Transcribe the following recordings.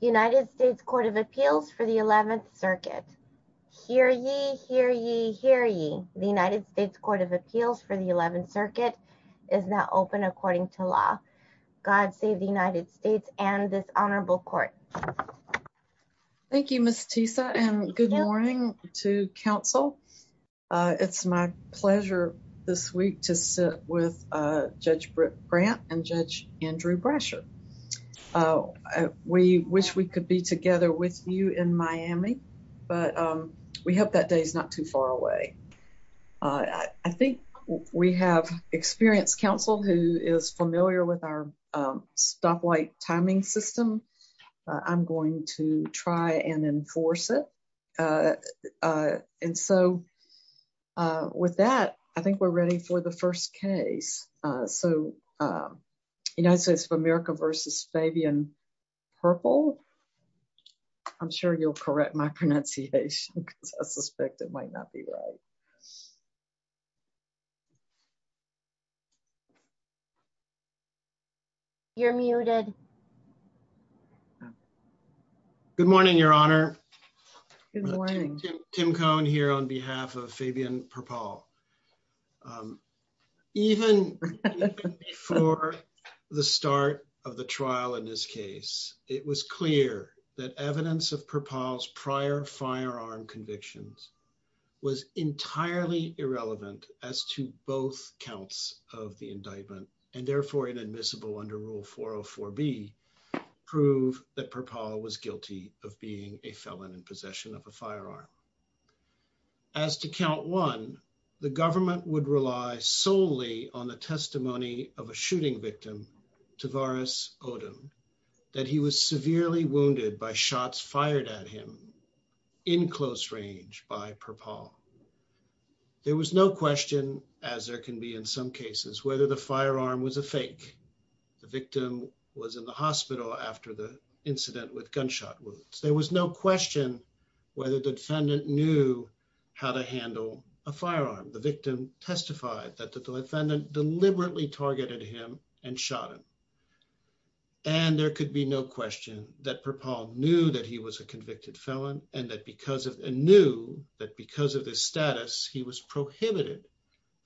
United States Court of Appeals for the 11th circuit. Hear ye, hear ye, hear ye. The United States Court of Appeals for the 11th circuit is now open according to law. God save the United States and this honorable court. Thank you Miss Tisa and good morning to council. It's my pleasure this week to sit with Judge Grant and Judge Andrew Brasher. We wish we could be together with you in Miami but we hope that day's not too far away. I think we have experienced council who is familiar with our stoplight timing system. I'm going to try and enforce it and so with that I think we're ready for the first case. So United States of America versus Fabian Perpall. I'm sure you'll correct my pronunciation because I suspect it might not be right. You're muted. Good morning your honor. Good morning. Tim Cohn here on behalf of Fabian Perpall. Even before the start of the trial in this case it was clear that evidence of Perpall's prior firearm convictions was entirely irrelevant as to both counts of the indictment and therefore inadmissible under rule 404b prove that Perpall was guilty of being a felon in possession of a firearm. As to count one the government would rely solely on the testimony of a shooting victim Tavares Odom that he was severely wounded by shots fired at him in close range by Perpall. There was no question as there can be in some cases whether the firearm was a fake. The victim was in the hospital after the incident with gunshot wounds. There was no question whether the defendant knew how to handle a firearm. The victim testified that the defendant deliberately targeted him and shot him and there could be no question that Perpall knew that he was a convicted felon and that because of and knew that because of this status he was prohibited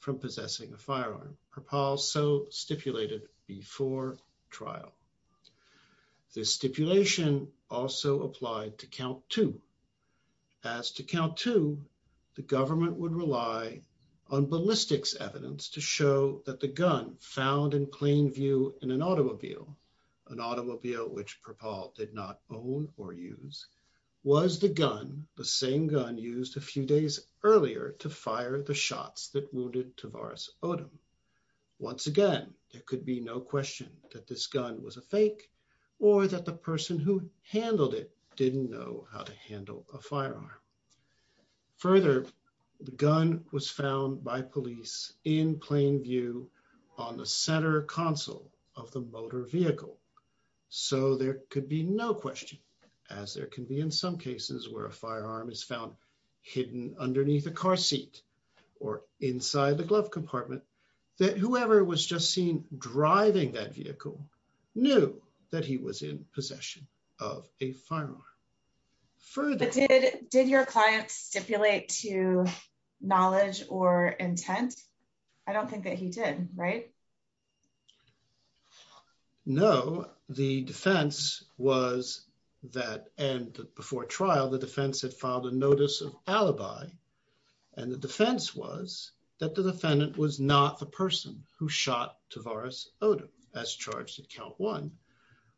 from possessing a firearm. Perpall so stipulated before trial. This stipulation also applied to count two the government would rely on ballistics evidence to show that the gun found in plain view in an automobile an automobile which Perpall did not own or use was the gun the same gun used a few days earlier to fire the shots that wounded Tavares Odom. Once again there could be no question that this gun was a fake or that the person who handled it didn't know how to handle a firearm. Further the gun was found by police in plain view on the center console of the motor vehicle so there could be no question as there can be in some cases where a firearm is found hidden underneath a car seat or inside the glove compartment that whoever was just seen driving that vehicle knew that he was in possession of a firearm. Did your client stipulate to knowledge or intent? I don't think that he did right? No the defense was that and before trial the defense had filed a notice of alibi and the count one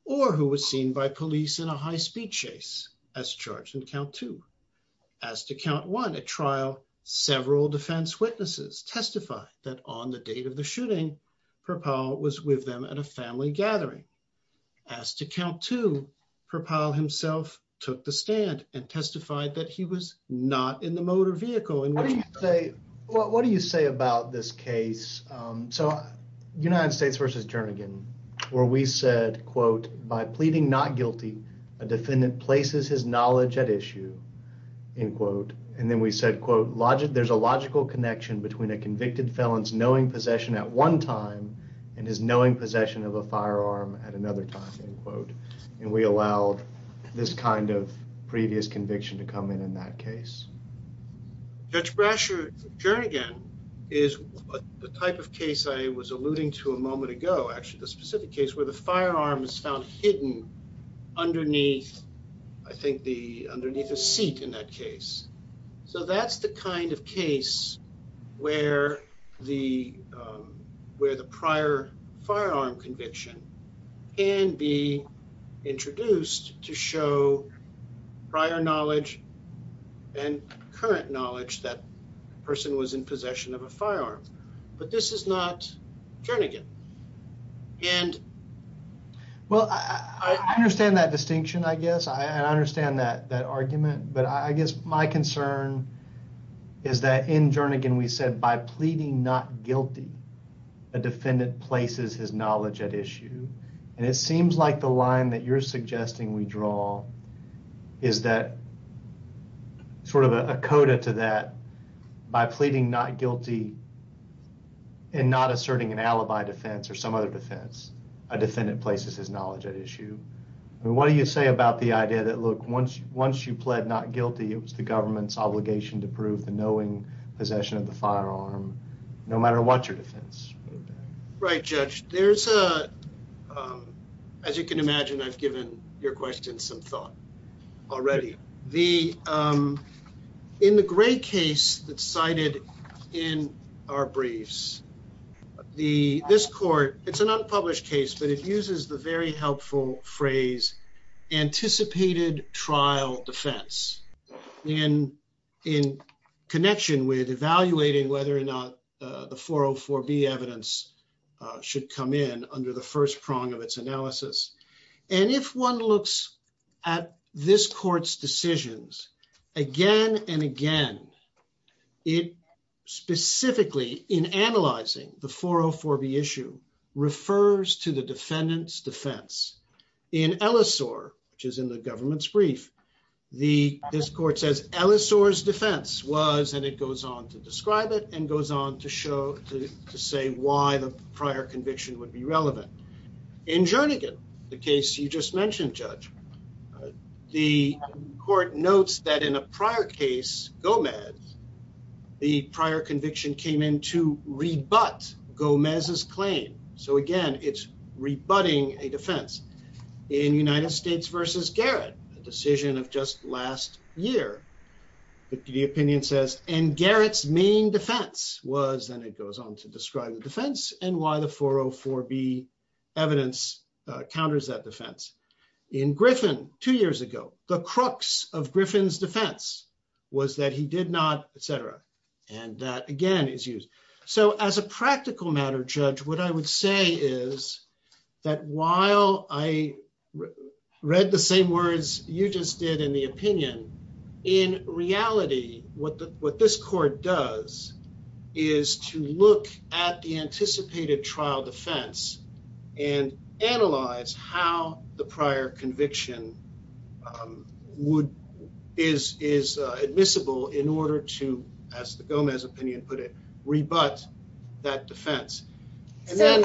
or who was seen by police in a high-speed chase as charged in count two. As to count one at trial several defense witnesses testified that on the date of the shooting Perpall was with them at a family gathering. As to count two Perpall himself took the stand and testified that he was not in the motor vehicle. What do you say what do you say about this case? So United States versus Jernigan where we said quote by pleading not guilty a defendant places his knowledge at issue in quote and then we said quote logic there's a logical connection between a convicted felon's knowing possession at one time and his knowing possession of a firearm at another time in quote and we allowed this kind of previous conviction to come in in that case. Judge Brasher Jernigan is the type of case I was alluding to a moment ago actually the specific case where the firearm is found hidden underneath I think the underneath a seat in that case. So that's the kind of case where the where the prior firearm conviction can be introduced to show prior knowledge and current knowledge that person was in possession of a firearm but this is not Jernigan and well I understand that distinction I guess I understand that that argument but I guess my concern is that in Jernigan we said by pleading not guilty a defendant places his knowledge at issue and it seems like the line that you're suggesting we draw is that sort of a coda to that by pleading not guilty and not asserting an alibi defense or some other defense a defendant places his knowledge at issue I mean what do you say about the idea that look once once you pled not guilty it was the government's possession of the firearm no matter what your defense. Right Judge there's a as you can imagine I've given your question some thought already the in the gray case that's cited in our briefs the this court it's an unpublished case but it uses the very helpful phrase anticipated trial defense in in connection with evaluating whether or not the 404b evidence should come in under the first prong of its analysis and if one looks at this court's decisions again and again it specifically in analyzing the 404b issue refers to the defendant's defense in Ellesore which is in the government's brief the this court says Ellesore's defense was and it goes on to describe it and goes on to show to say why the prior conviction would be relevant in Jernigan the case you just mentioned Judge the court notes that in a prior case Gomez the prior conviction came in to rebut Gomez's claim so again it's rebutting a defense in United States versus Garrett a decision of just last year the opinion says and Garrett's main defense was and it goes on to describe the defense and why the 404b evidence counters that in Griffin two years ago the crux of Griffin's defense was that he did not etc and that again is used so as a practical matter Judge what I would say is that while I read the same words you just did in the opinion in reality what the what this court does is to look at the anticipated trial defense and analyze how the prior conviction would is is admissible in order to as the Gomez opinion put it rebut that defense and then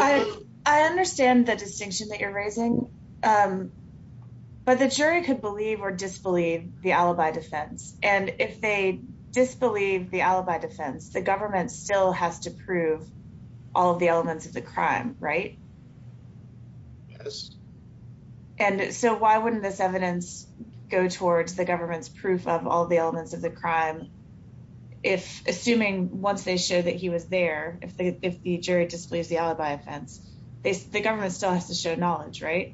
I understand the distinction that you're raising but the jury could believe or disbelieve the alibi defense and if they disbelieve the right and so why wouldn't this evidence go towards the government's proof of all the elements of the crime if assuming once they show that he was there if the if the jury disbelieves the alibi offense they the government still has to show knowledge right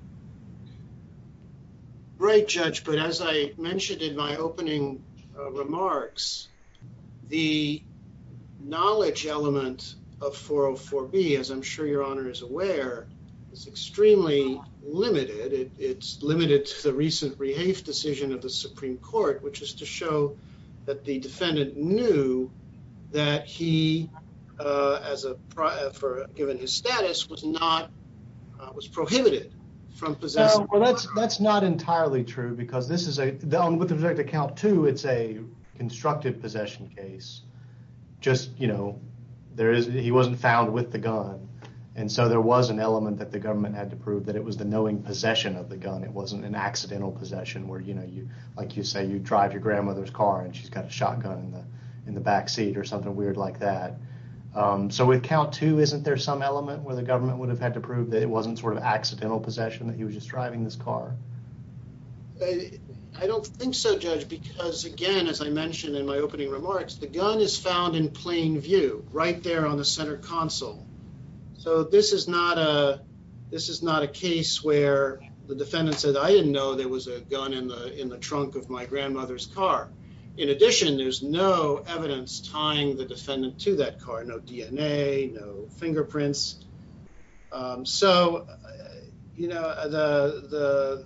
right Judge but as I mentioned in my opening remarks the knowledge element of 404b as I'm sure your honor is aware is extremely limited it's limited to the recent rehafe decision of the Supreme Court which is to show that the defendant knew that he as a prior for given his status was not was prohibited from possessing well that's that's not entirely true because this is a down with the project account too it's a constructive possession case just you know there is he wasn't found with the gun and so there was an element that the government had to prove that it was the knowing possession of the gun it wasn't an accidental possession where you know you like you say you drive your grandmother's car and she's got a shotgun in the in the back seat or something weird like that um so with count two isn't there some element where the government would have had to prove that it wasn't sort of accidental possession that he was just driving this car I don't think so judge because again as I mentioned in my opening remarks the gun is found in plain view right there on the center console so this is not a this is not a case where the defendant said I didn't know there was a gun in the in the trunk of my grandmother's car in addition there's no evidence tying the defendant to that car no dna no fingerprints um so you know the the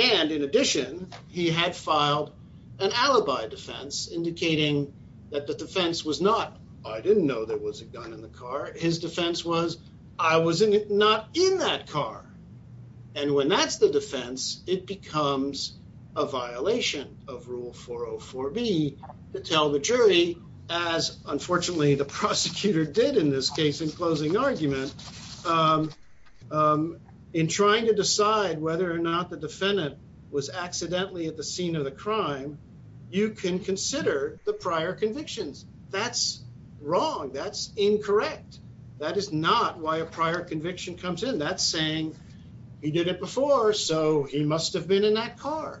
and in addition he had filed an alibi defense indicating that the defense was not I didn't know there was a gun in the car his defense was I was not in that car and when that's the defense it becomes a violation of rule 404b to tell the jury as unfortunately the prosecutor did in this case in closing argument um in trying to decide whether or not the defendant was accidentally at the scene of the crime you can consider the prior convictions that's wrong that's incorrect that is not why a prior conviction comes in that's saying he did it before so he must have been in that car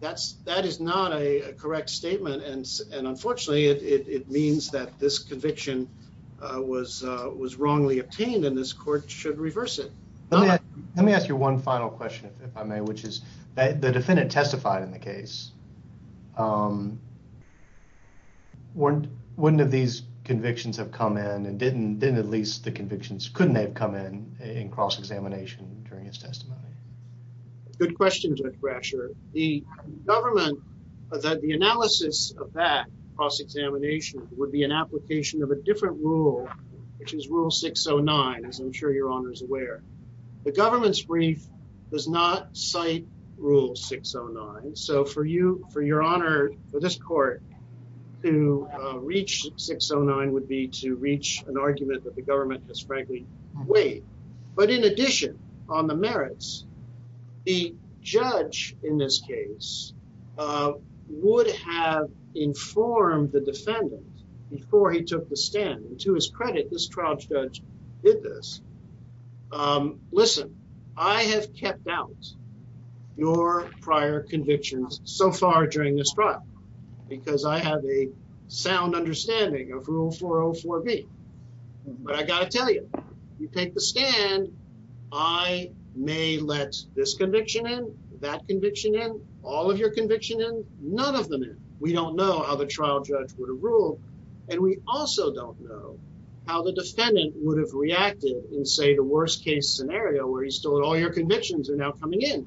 that's that is not a correct statement and and unfortunately it it means that this conviction uh was uh was wrongly obtained and this court should reverse it let me ask you one final question if I may which is that the defendant testified in the case um wouldn't wouldn't have these convictions have come in and didn't didn't at least the convictions couldn't have come in in cross-examination during testimony good question judge brasher the government that the analysis of that cross-examination would be an application of a different rule which is rule 609 as I'm sure your honor is aware the government's brief does not cite rule 609 so for you for your honor for this court to reach 609 would be to reach an argument that the government has frankly waived but in addition on the merits the judge in this case uh would have informed the defendant before he took the stand and to his credit this trial judge did this um listen I have kept out your prior convictions so far during this trial because I have a sound understanding of rule 404b but I got to tell you you take the stand I may let this conviction in that conviction in all of your conviction in none of them in we don't know how the trial judge would have ruled and we also don't know how the defendant would have reacted in say the worst case scenario where he's told all your convictions are now coming in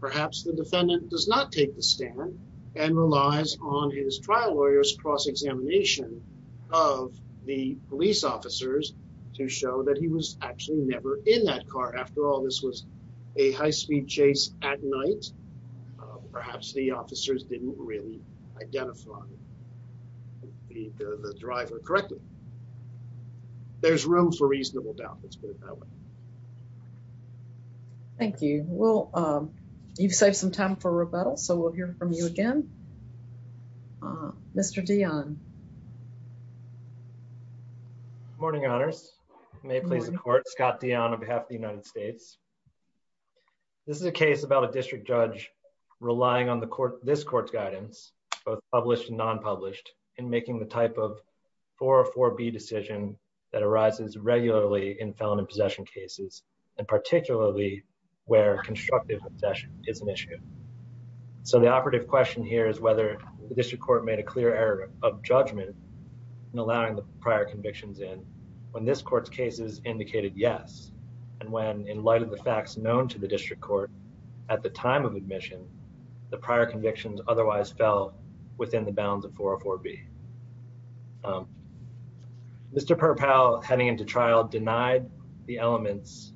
perhaps the defendant does not take the stand and relies on his trial lawyers cross-examination of the police officers to show that he was actually never in that car after all this was a high-speed chase at night perhaps the officers didn't really identify the the driver correctly there's room for reasonable doubt let's put it that way thank you well um you've saved some time for rebuttal so we'll hear from you again Mr. Dion morning honors may it please the court Scott Dion on behalf of the United States this is a case about a district judge relying on the court this court's guidance both published and non-published in making the type of 404b decision that arises regularly in felony possession cases and particularly where constructive obsession is an issue so the operative question here is whether the district court made a clear error of judgment in allowing the prior convictions in when this court's cases indicated yes and when in light of the facts known to the district court at the time of admission the prior convictions otherwise fell within the bounds of 404b um Mr. Purpell heading into trial denied the elements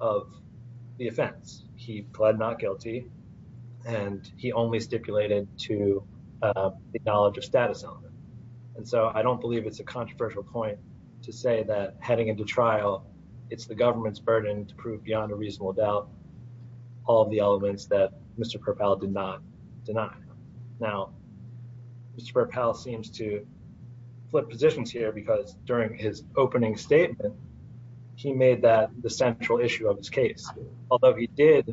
of the offense he pled not he only stipulated to the knowledge of status element and so I don't believe it's a controversial point to say that heading into trial it's the government's burden to prove beyond a reasonable doubt all the elements that Mr. Purpell did not deny now Mr. Purpell seems to flip positions here because during his opening statement he made that the central issue of his case although he did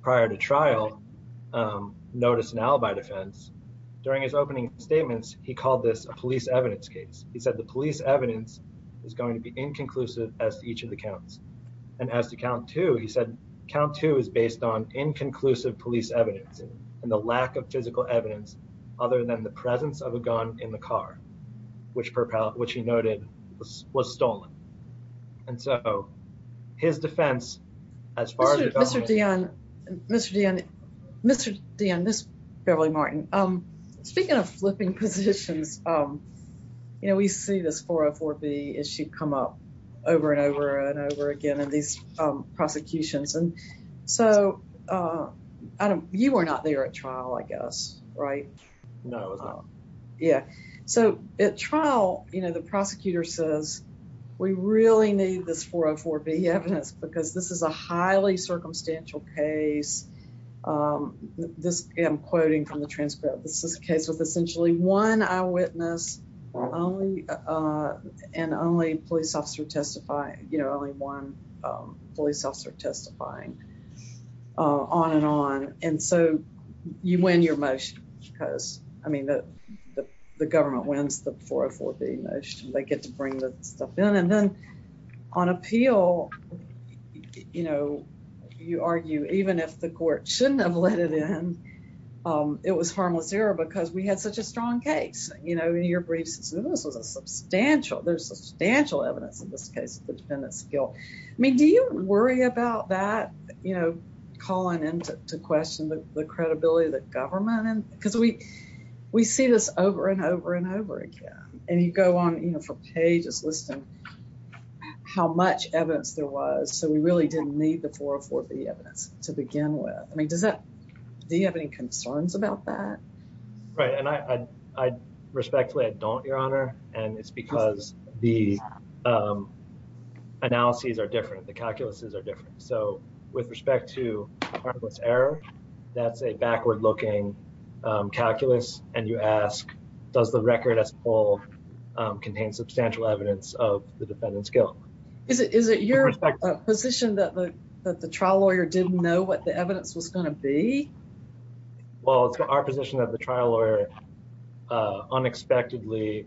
prior to trial notice now by defense during his opening statements he called this a police evidence case he said the police evidence is going to be inconclusive as to each of the counts and as to count two he said count two is based on inconclusive police evidence and the lack of physical evidence other than the presence of a gun in the car which purpell which he noted was stolen and so his defense as far as Mr. Dionne Mr. Dionne Mr. Dionne this Beverly Martin um speaking of flipping positions um you know we see this 404b issue come up over and over and over again in these um prosecutions and so uh I don't you were not there at trial I guess right no yeah so at prosecutor says we really need this 404b evidence because this is a highly circumstantial case um this I'm quoting from the transcript this is a case with essentially one eyewitness only uh and only police officer testifying you know only one um police officer testifying on and on and so you win your motion because I mean the the government wins the 404b motion they get to bring the stuff in and then on appeal you know you argue even if the court shouldn't have let it in um it was harmless error because we had such a strong case you know your briefs this was a substantial there's substantial evidence in this case the defendant's guilt I mean do you worry about that you know calling in to question the credibility of the government and because we we see this over and over and over again and you go on you know for pages listing how much evidence there was so we really didn't need the 404b evidence to begin with I mean does that do you have any concerns about that right and I I respectfully I don't your honor and it's because the um analyses are different the calculuses are different so with respect to harmless error that's a backward looking calculus and you ask does the record as a whole contain substantial evidence of the defendant's guilt is it is it your position that the that the trial lawyer didn't know what the evidence was going to be well it's our position that the trial lawyer uh unexpectedly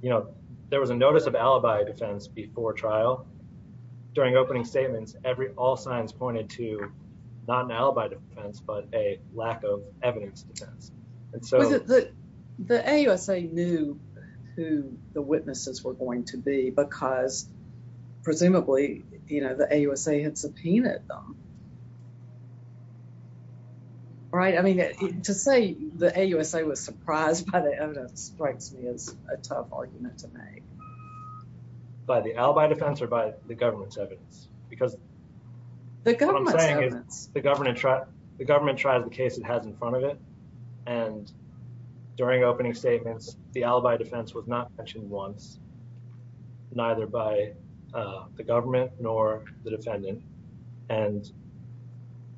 you know there was a notice of alibi defense before trial during opening statements every all signs pointed to not an alibi defense but a lack of evidence defense and so the the AUSA knew who the witnesses were going to be because presumably you know the AUSA had subpoenaed them right I mean to say the AUSA was surprised by the evidence strikes me as a tough argument to make by the alibi defense or by the government's evidence because what I'm saying is the government tried the government tried the case it has in front of it and during opening statements the alibi defense was not mentioned once neither by the government nor the defendant and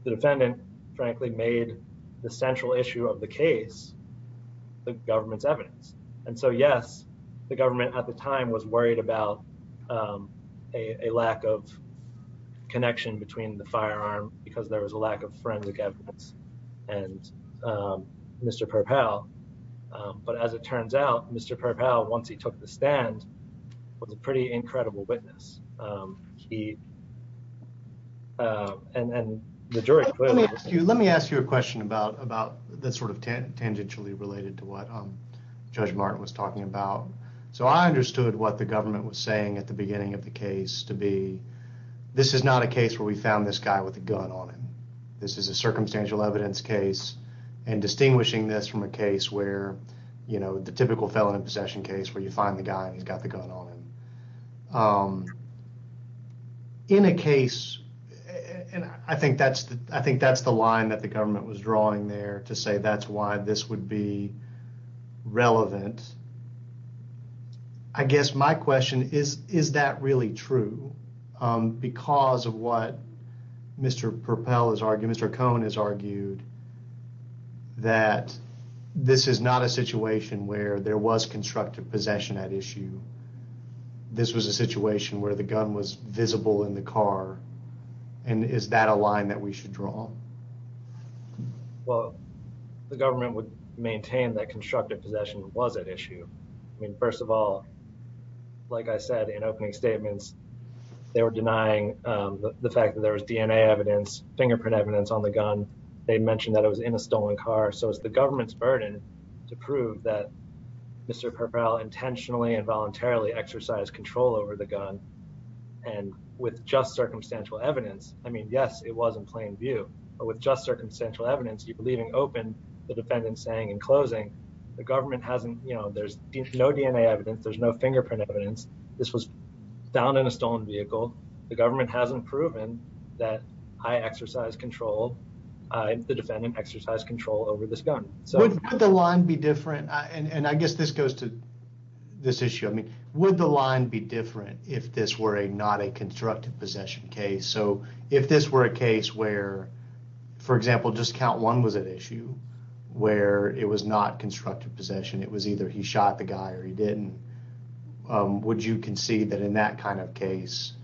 the defendant frankly made the central issue of the case the government's evidence and so yes the government at the time was worried about um a lack of connection between the firearm because there was a lack of forensic evidence and um Mr. Perpel but as it turns out Mr. Perpel once he took the stand was a pretty incredible witness um he uh and and the jury let me ask you let me ask you a question about about that sort of tangentially related to what um Judge Martin was talking about so I understood what the government was saying at the beginning of the case to be this is not a case where we found this guy with a gun on him this is a circumstantial evidence case and distinguishing this from a case where you know the typical felon in possession case where you find the guy who's got the gun on him um in a case and I think that's I think that's the line the government was drawing there to say that's why this would be relevant I guess my question is is that really true um because of what Mr. Perpel has argued Mr. Cohen has argued that this is not a situation where there was constructive possession at issue this was a situation where the gun was visible in the car and is that a line that we should draw well the government would maintain that constructive possession was at issue I mean first of all like I said in opening statements they were denying um the fact that there was DNA evidence fingerprint evidence on the gun they mentioned that it was in a stolen car so it's the government's burden to prove that Mr. Perpel intentionally and voluntarily exercised control over the gun and with just circumstantial evidence I mean yes it was in plain view with just circumstantial evidence you're leaving open the defendant saying in closing the government hasn't you know there's no DNA evidence there's no fingerprint evidence this was found in a stolen vehicle the government hasn't proven that I exercised control I the defendant exercised control over this gun so would the line be different and I guess this goes to this issue I mean would the line be different if this were a not a constructive possession case so if this were a case where for example just count one was at issue where it was not constructive possession it was either he shot the guy or he didn't would you concede that in that kind of case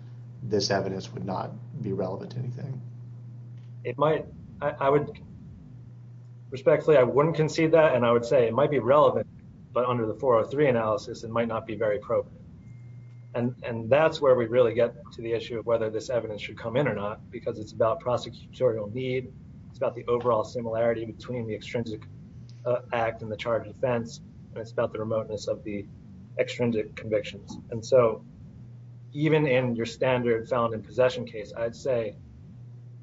this evidence would not be relevant to anything it might I would respectfully I wouldn't concede that and I would say it might be relevant but under the 403 analysis it might not be very appropriate and and that's where we really get to the issue of whether this evidence should come in or not because it's about prosecutorial need it's about the overall similarity between the extrinsic act and the charge of defense and it's about the remoteness of the extrinsic convictions and so even in your standard found in possession case I'd say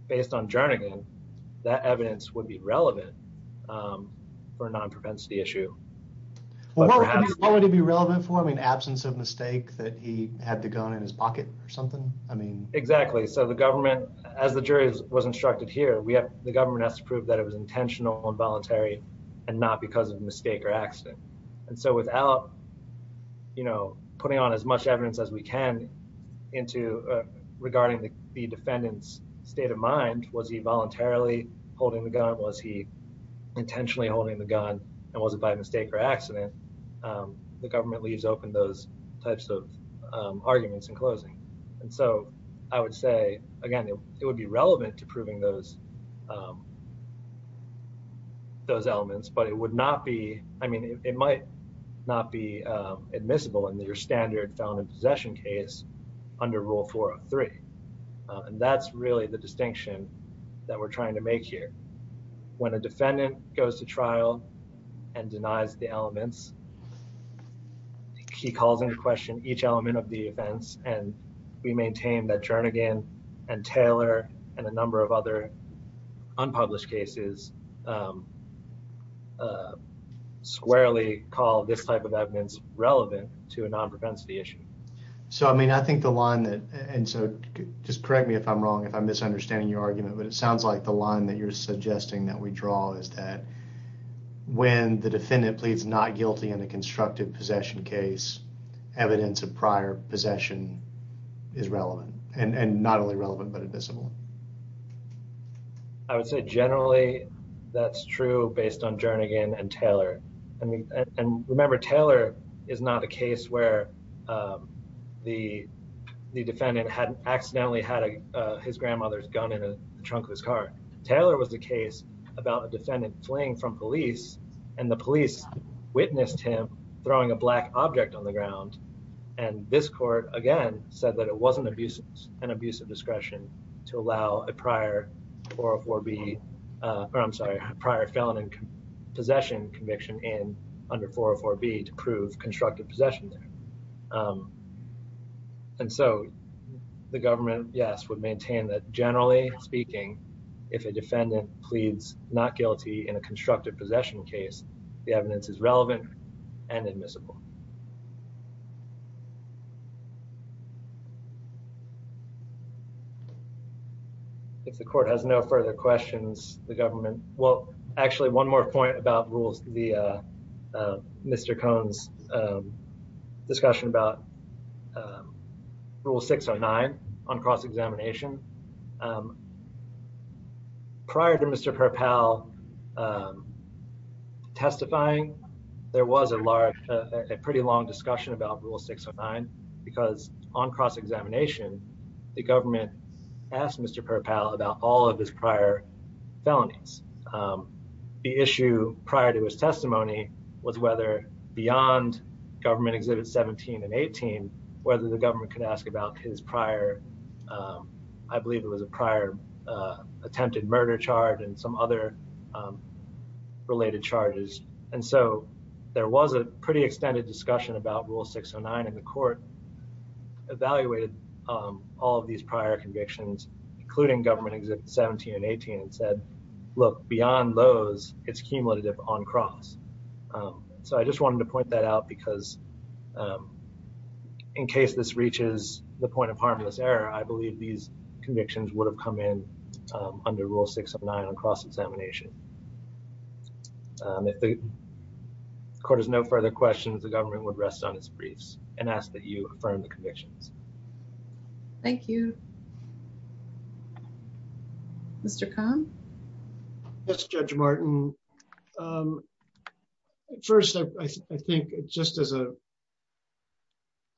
based on Jernigan that evidence would be relevant for a non-preventive issue well what would it be relevant for I mean absence of mistake that he had the gun in his pocket or I mean exactly so the government as the jury was instructed here we have the government has to prove that it was intentional and voluntary and not because of mistake or accident and so without you know putting on as much evidence as we can into regarding the defendant's state of mind was he voluntarily holding the gun was he intentionally holding the gun and was it by mistake or accident the government leaves open those types of arguments in closing and so I would say again it would be relevant to proving those those elements but it would not be I mean it might not be admissible in your standard found in possession case under rule 403 and that's really the distinction that we're trying to make here when a defendant goes to trial and denies the elements he calls into question each element of the offense and we maintain that Jernigan and Taylor and a number of other unpublished cases squarely call this type of evidence relevant to a non-preventive issue so I mean I think the line that and so just correct me if I'm wrong if I'm misunderstanding your argument but it sounds like the line that you're suggesting that we draw is that when the defendant pleads not guilty in a constructive possession case evidence of prior possession is relevant and and not only relevant but admissible I would say generally that's true based on Jernigan and Taylor I mean and remember Taylor is not a case where the the defendant hadn't accidentally had a his grandmother's gun in the trunk of his car Taylor was the case about a defendant fleeing from police and the police witnessed him throwing a black object on the ground and this court again said that it wasn't abusive and abusive discretion to allow a prior 404b or I'm sorry prior felon in possession conviction in under 404b to prove constructive possession there and so the government yes would maintain that generally speaking if a defendant pleads not guilty in a constructive possession case the evidence is relevant and admissible if the court has no further questions the government well actually one more point about the Mr. Cohn's discussion about rule 609 on cross-examination prior to Mr. Perpow testifying there was a large a pretty long discussion about rule 609 because on cross-examination the government asked Mr. Perpow about all of his prior felonies the issue prior to his testimony was whether beyond government exhibit 17 and 18 whether the government could ask about his prior I believe it was a prior attempted murder charge and some other related charges and so there was a pretty extended discussion about rule 609 and the court evaluated all of these prior convictions including government exhibit 17 and 18 and said look beyond those it's cumulative on cross so I just wanted to point that out because in case this reaches the point of harmless error I believe these convictions would have come in under rule 609 on cross-examination if the court has no further questions the government would rest on its briefs and ask that you affirm the convictions thank you Mr. Cohn yes Judge Martin first I think just as a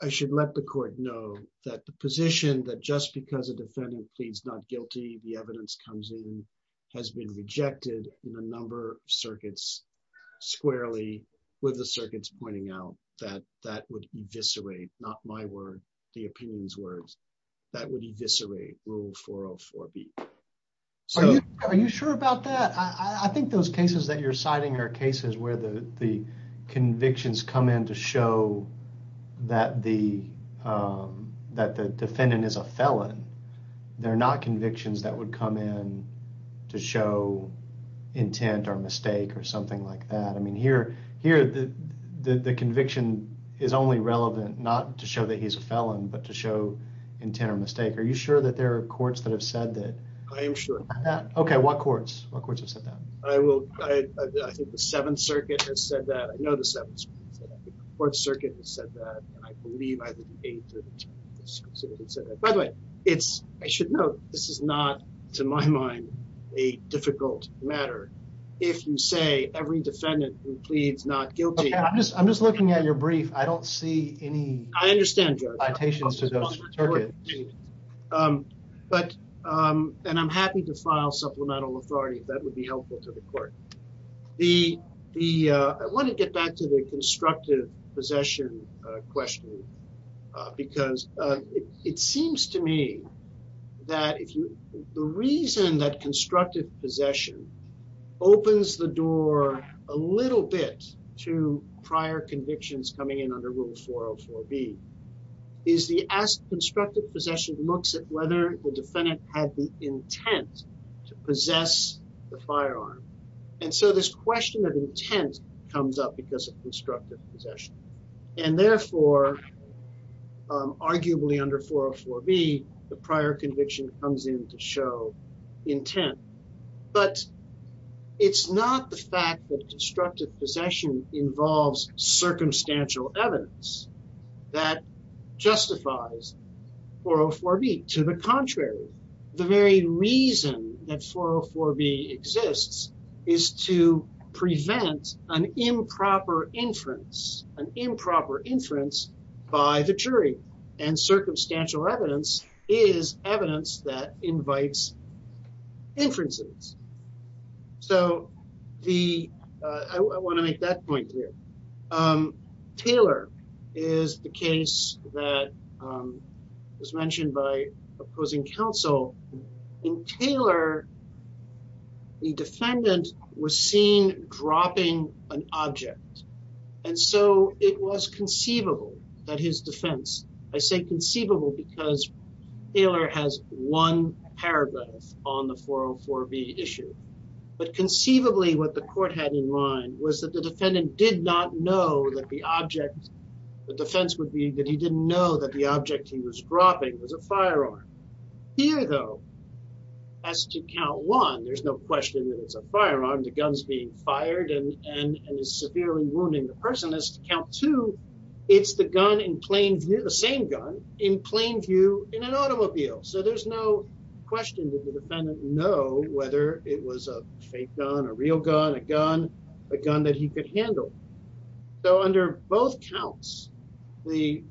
I should let the court know that the position that just because a defendant pleads not guilty the evidence comes in has been rejected in a number of circuits squarely with the circuits pointing out that that would eviscerate not my the opinions words that would eviscerate rule 404b so are you sure about that I think those cases that you're citing are cases where the the convictions come in to show that the um that the defendant is a felon they're not convictions that would come in to show intent or mistake or something like that I mean here here the the conviction is only relevant not to show that he's a felon but to show intent or mistake are you sure that there are courts that have said that I am sure yeah okay what courts what courts have said that I will I think the seventh circuit has said that I know the seventh circuit has said that and I believe either the eighth or the tenth circuit said that by the way it's I should note this is not to my mind a difficult matter if you say every defendant who pleads not guilty I'm just I'm just looking at your brief I don't see any I understand your citations to those circuits um but um and I'm happy to file supplemental authority if that would be helpful to the court the the uh I want to get back to the constructive possession uh question uh because uh it seems to me that if you the reason that constructive possession opens the door a little bit to prior convictions coming in under rule 404b is the as constructive possession looks at whether the defendant had the intent to possess the firearm and so this question of intent comes up because of constructive possession and therefore um arguably under 404b the prior conviction comes in to show intent but it's not the fact that constructive possession involves circumstantial evidence that justifies 404b to the contrary the very reason that 404b exists is to prevent an improper inference an improper inference by the jury and circumstantial evidence is evidence that invites inferences so the I want to make that point here um Taylor is the case that um mentioned by opposing counsel in Taylor the defendant was seen dropping an object and so it was conceivable that his defense I say conceivable because Taylor has one paragraph on the 404b issue but conceivably what the court had in mind was that the defendant did not know that the object the defense would be that he didn't know that the object he was dropping was a firearm here though as to count one there's no question that it's a firearm the gun's being fired and and and it's severely wounding the person as to count two it's the gun in plain view the same gun in plain view in an automobile so there's no question that the defendant know whether it was a fake gun a real gun a gun a gun that he could handle so under both counts the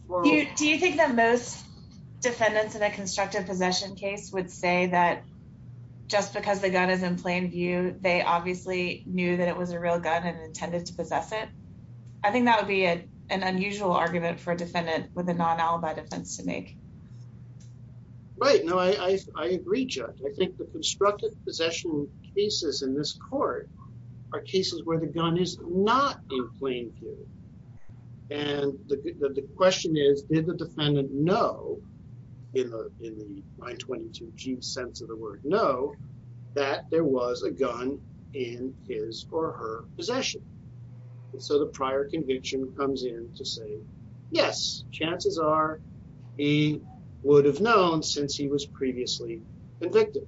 do you think that most defendants in a constructive possession case would say that just because the gun is in plain view they obviously knew that it was a real gun and intended to possess it I think that would be a an unusual argument for a defendant with a cases in this court are cases where the gun is not in plain view and the question is did the defendant know in the in the 922 g sense of the word no that there was a gun in his or her possession and so the prior conviction comes in to say yes chances are he would have known since he was previously convicted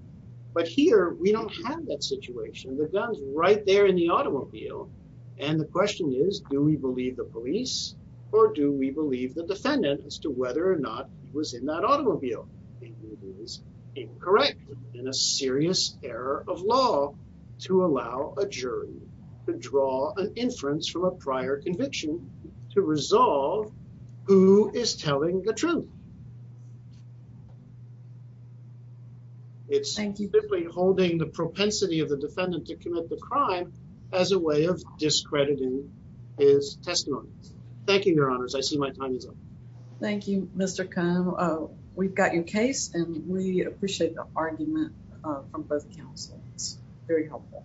but here we don't have that situation the gun's right there in the automobile and the question is do we believe the police or do we believe the defendant as to whether or not he was in that automobile it is incorrect and a serious error of law to allow a jury to draw an inference from a prior conviction to resolve who is telling the truth it's simply holding the propensity of the defendant to commit the crime as a way of discrediting his testimony thank you your honors I see my time is up thank you Mr. Cohn we've got your case and we appreciate the argument from both counsels very helpful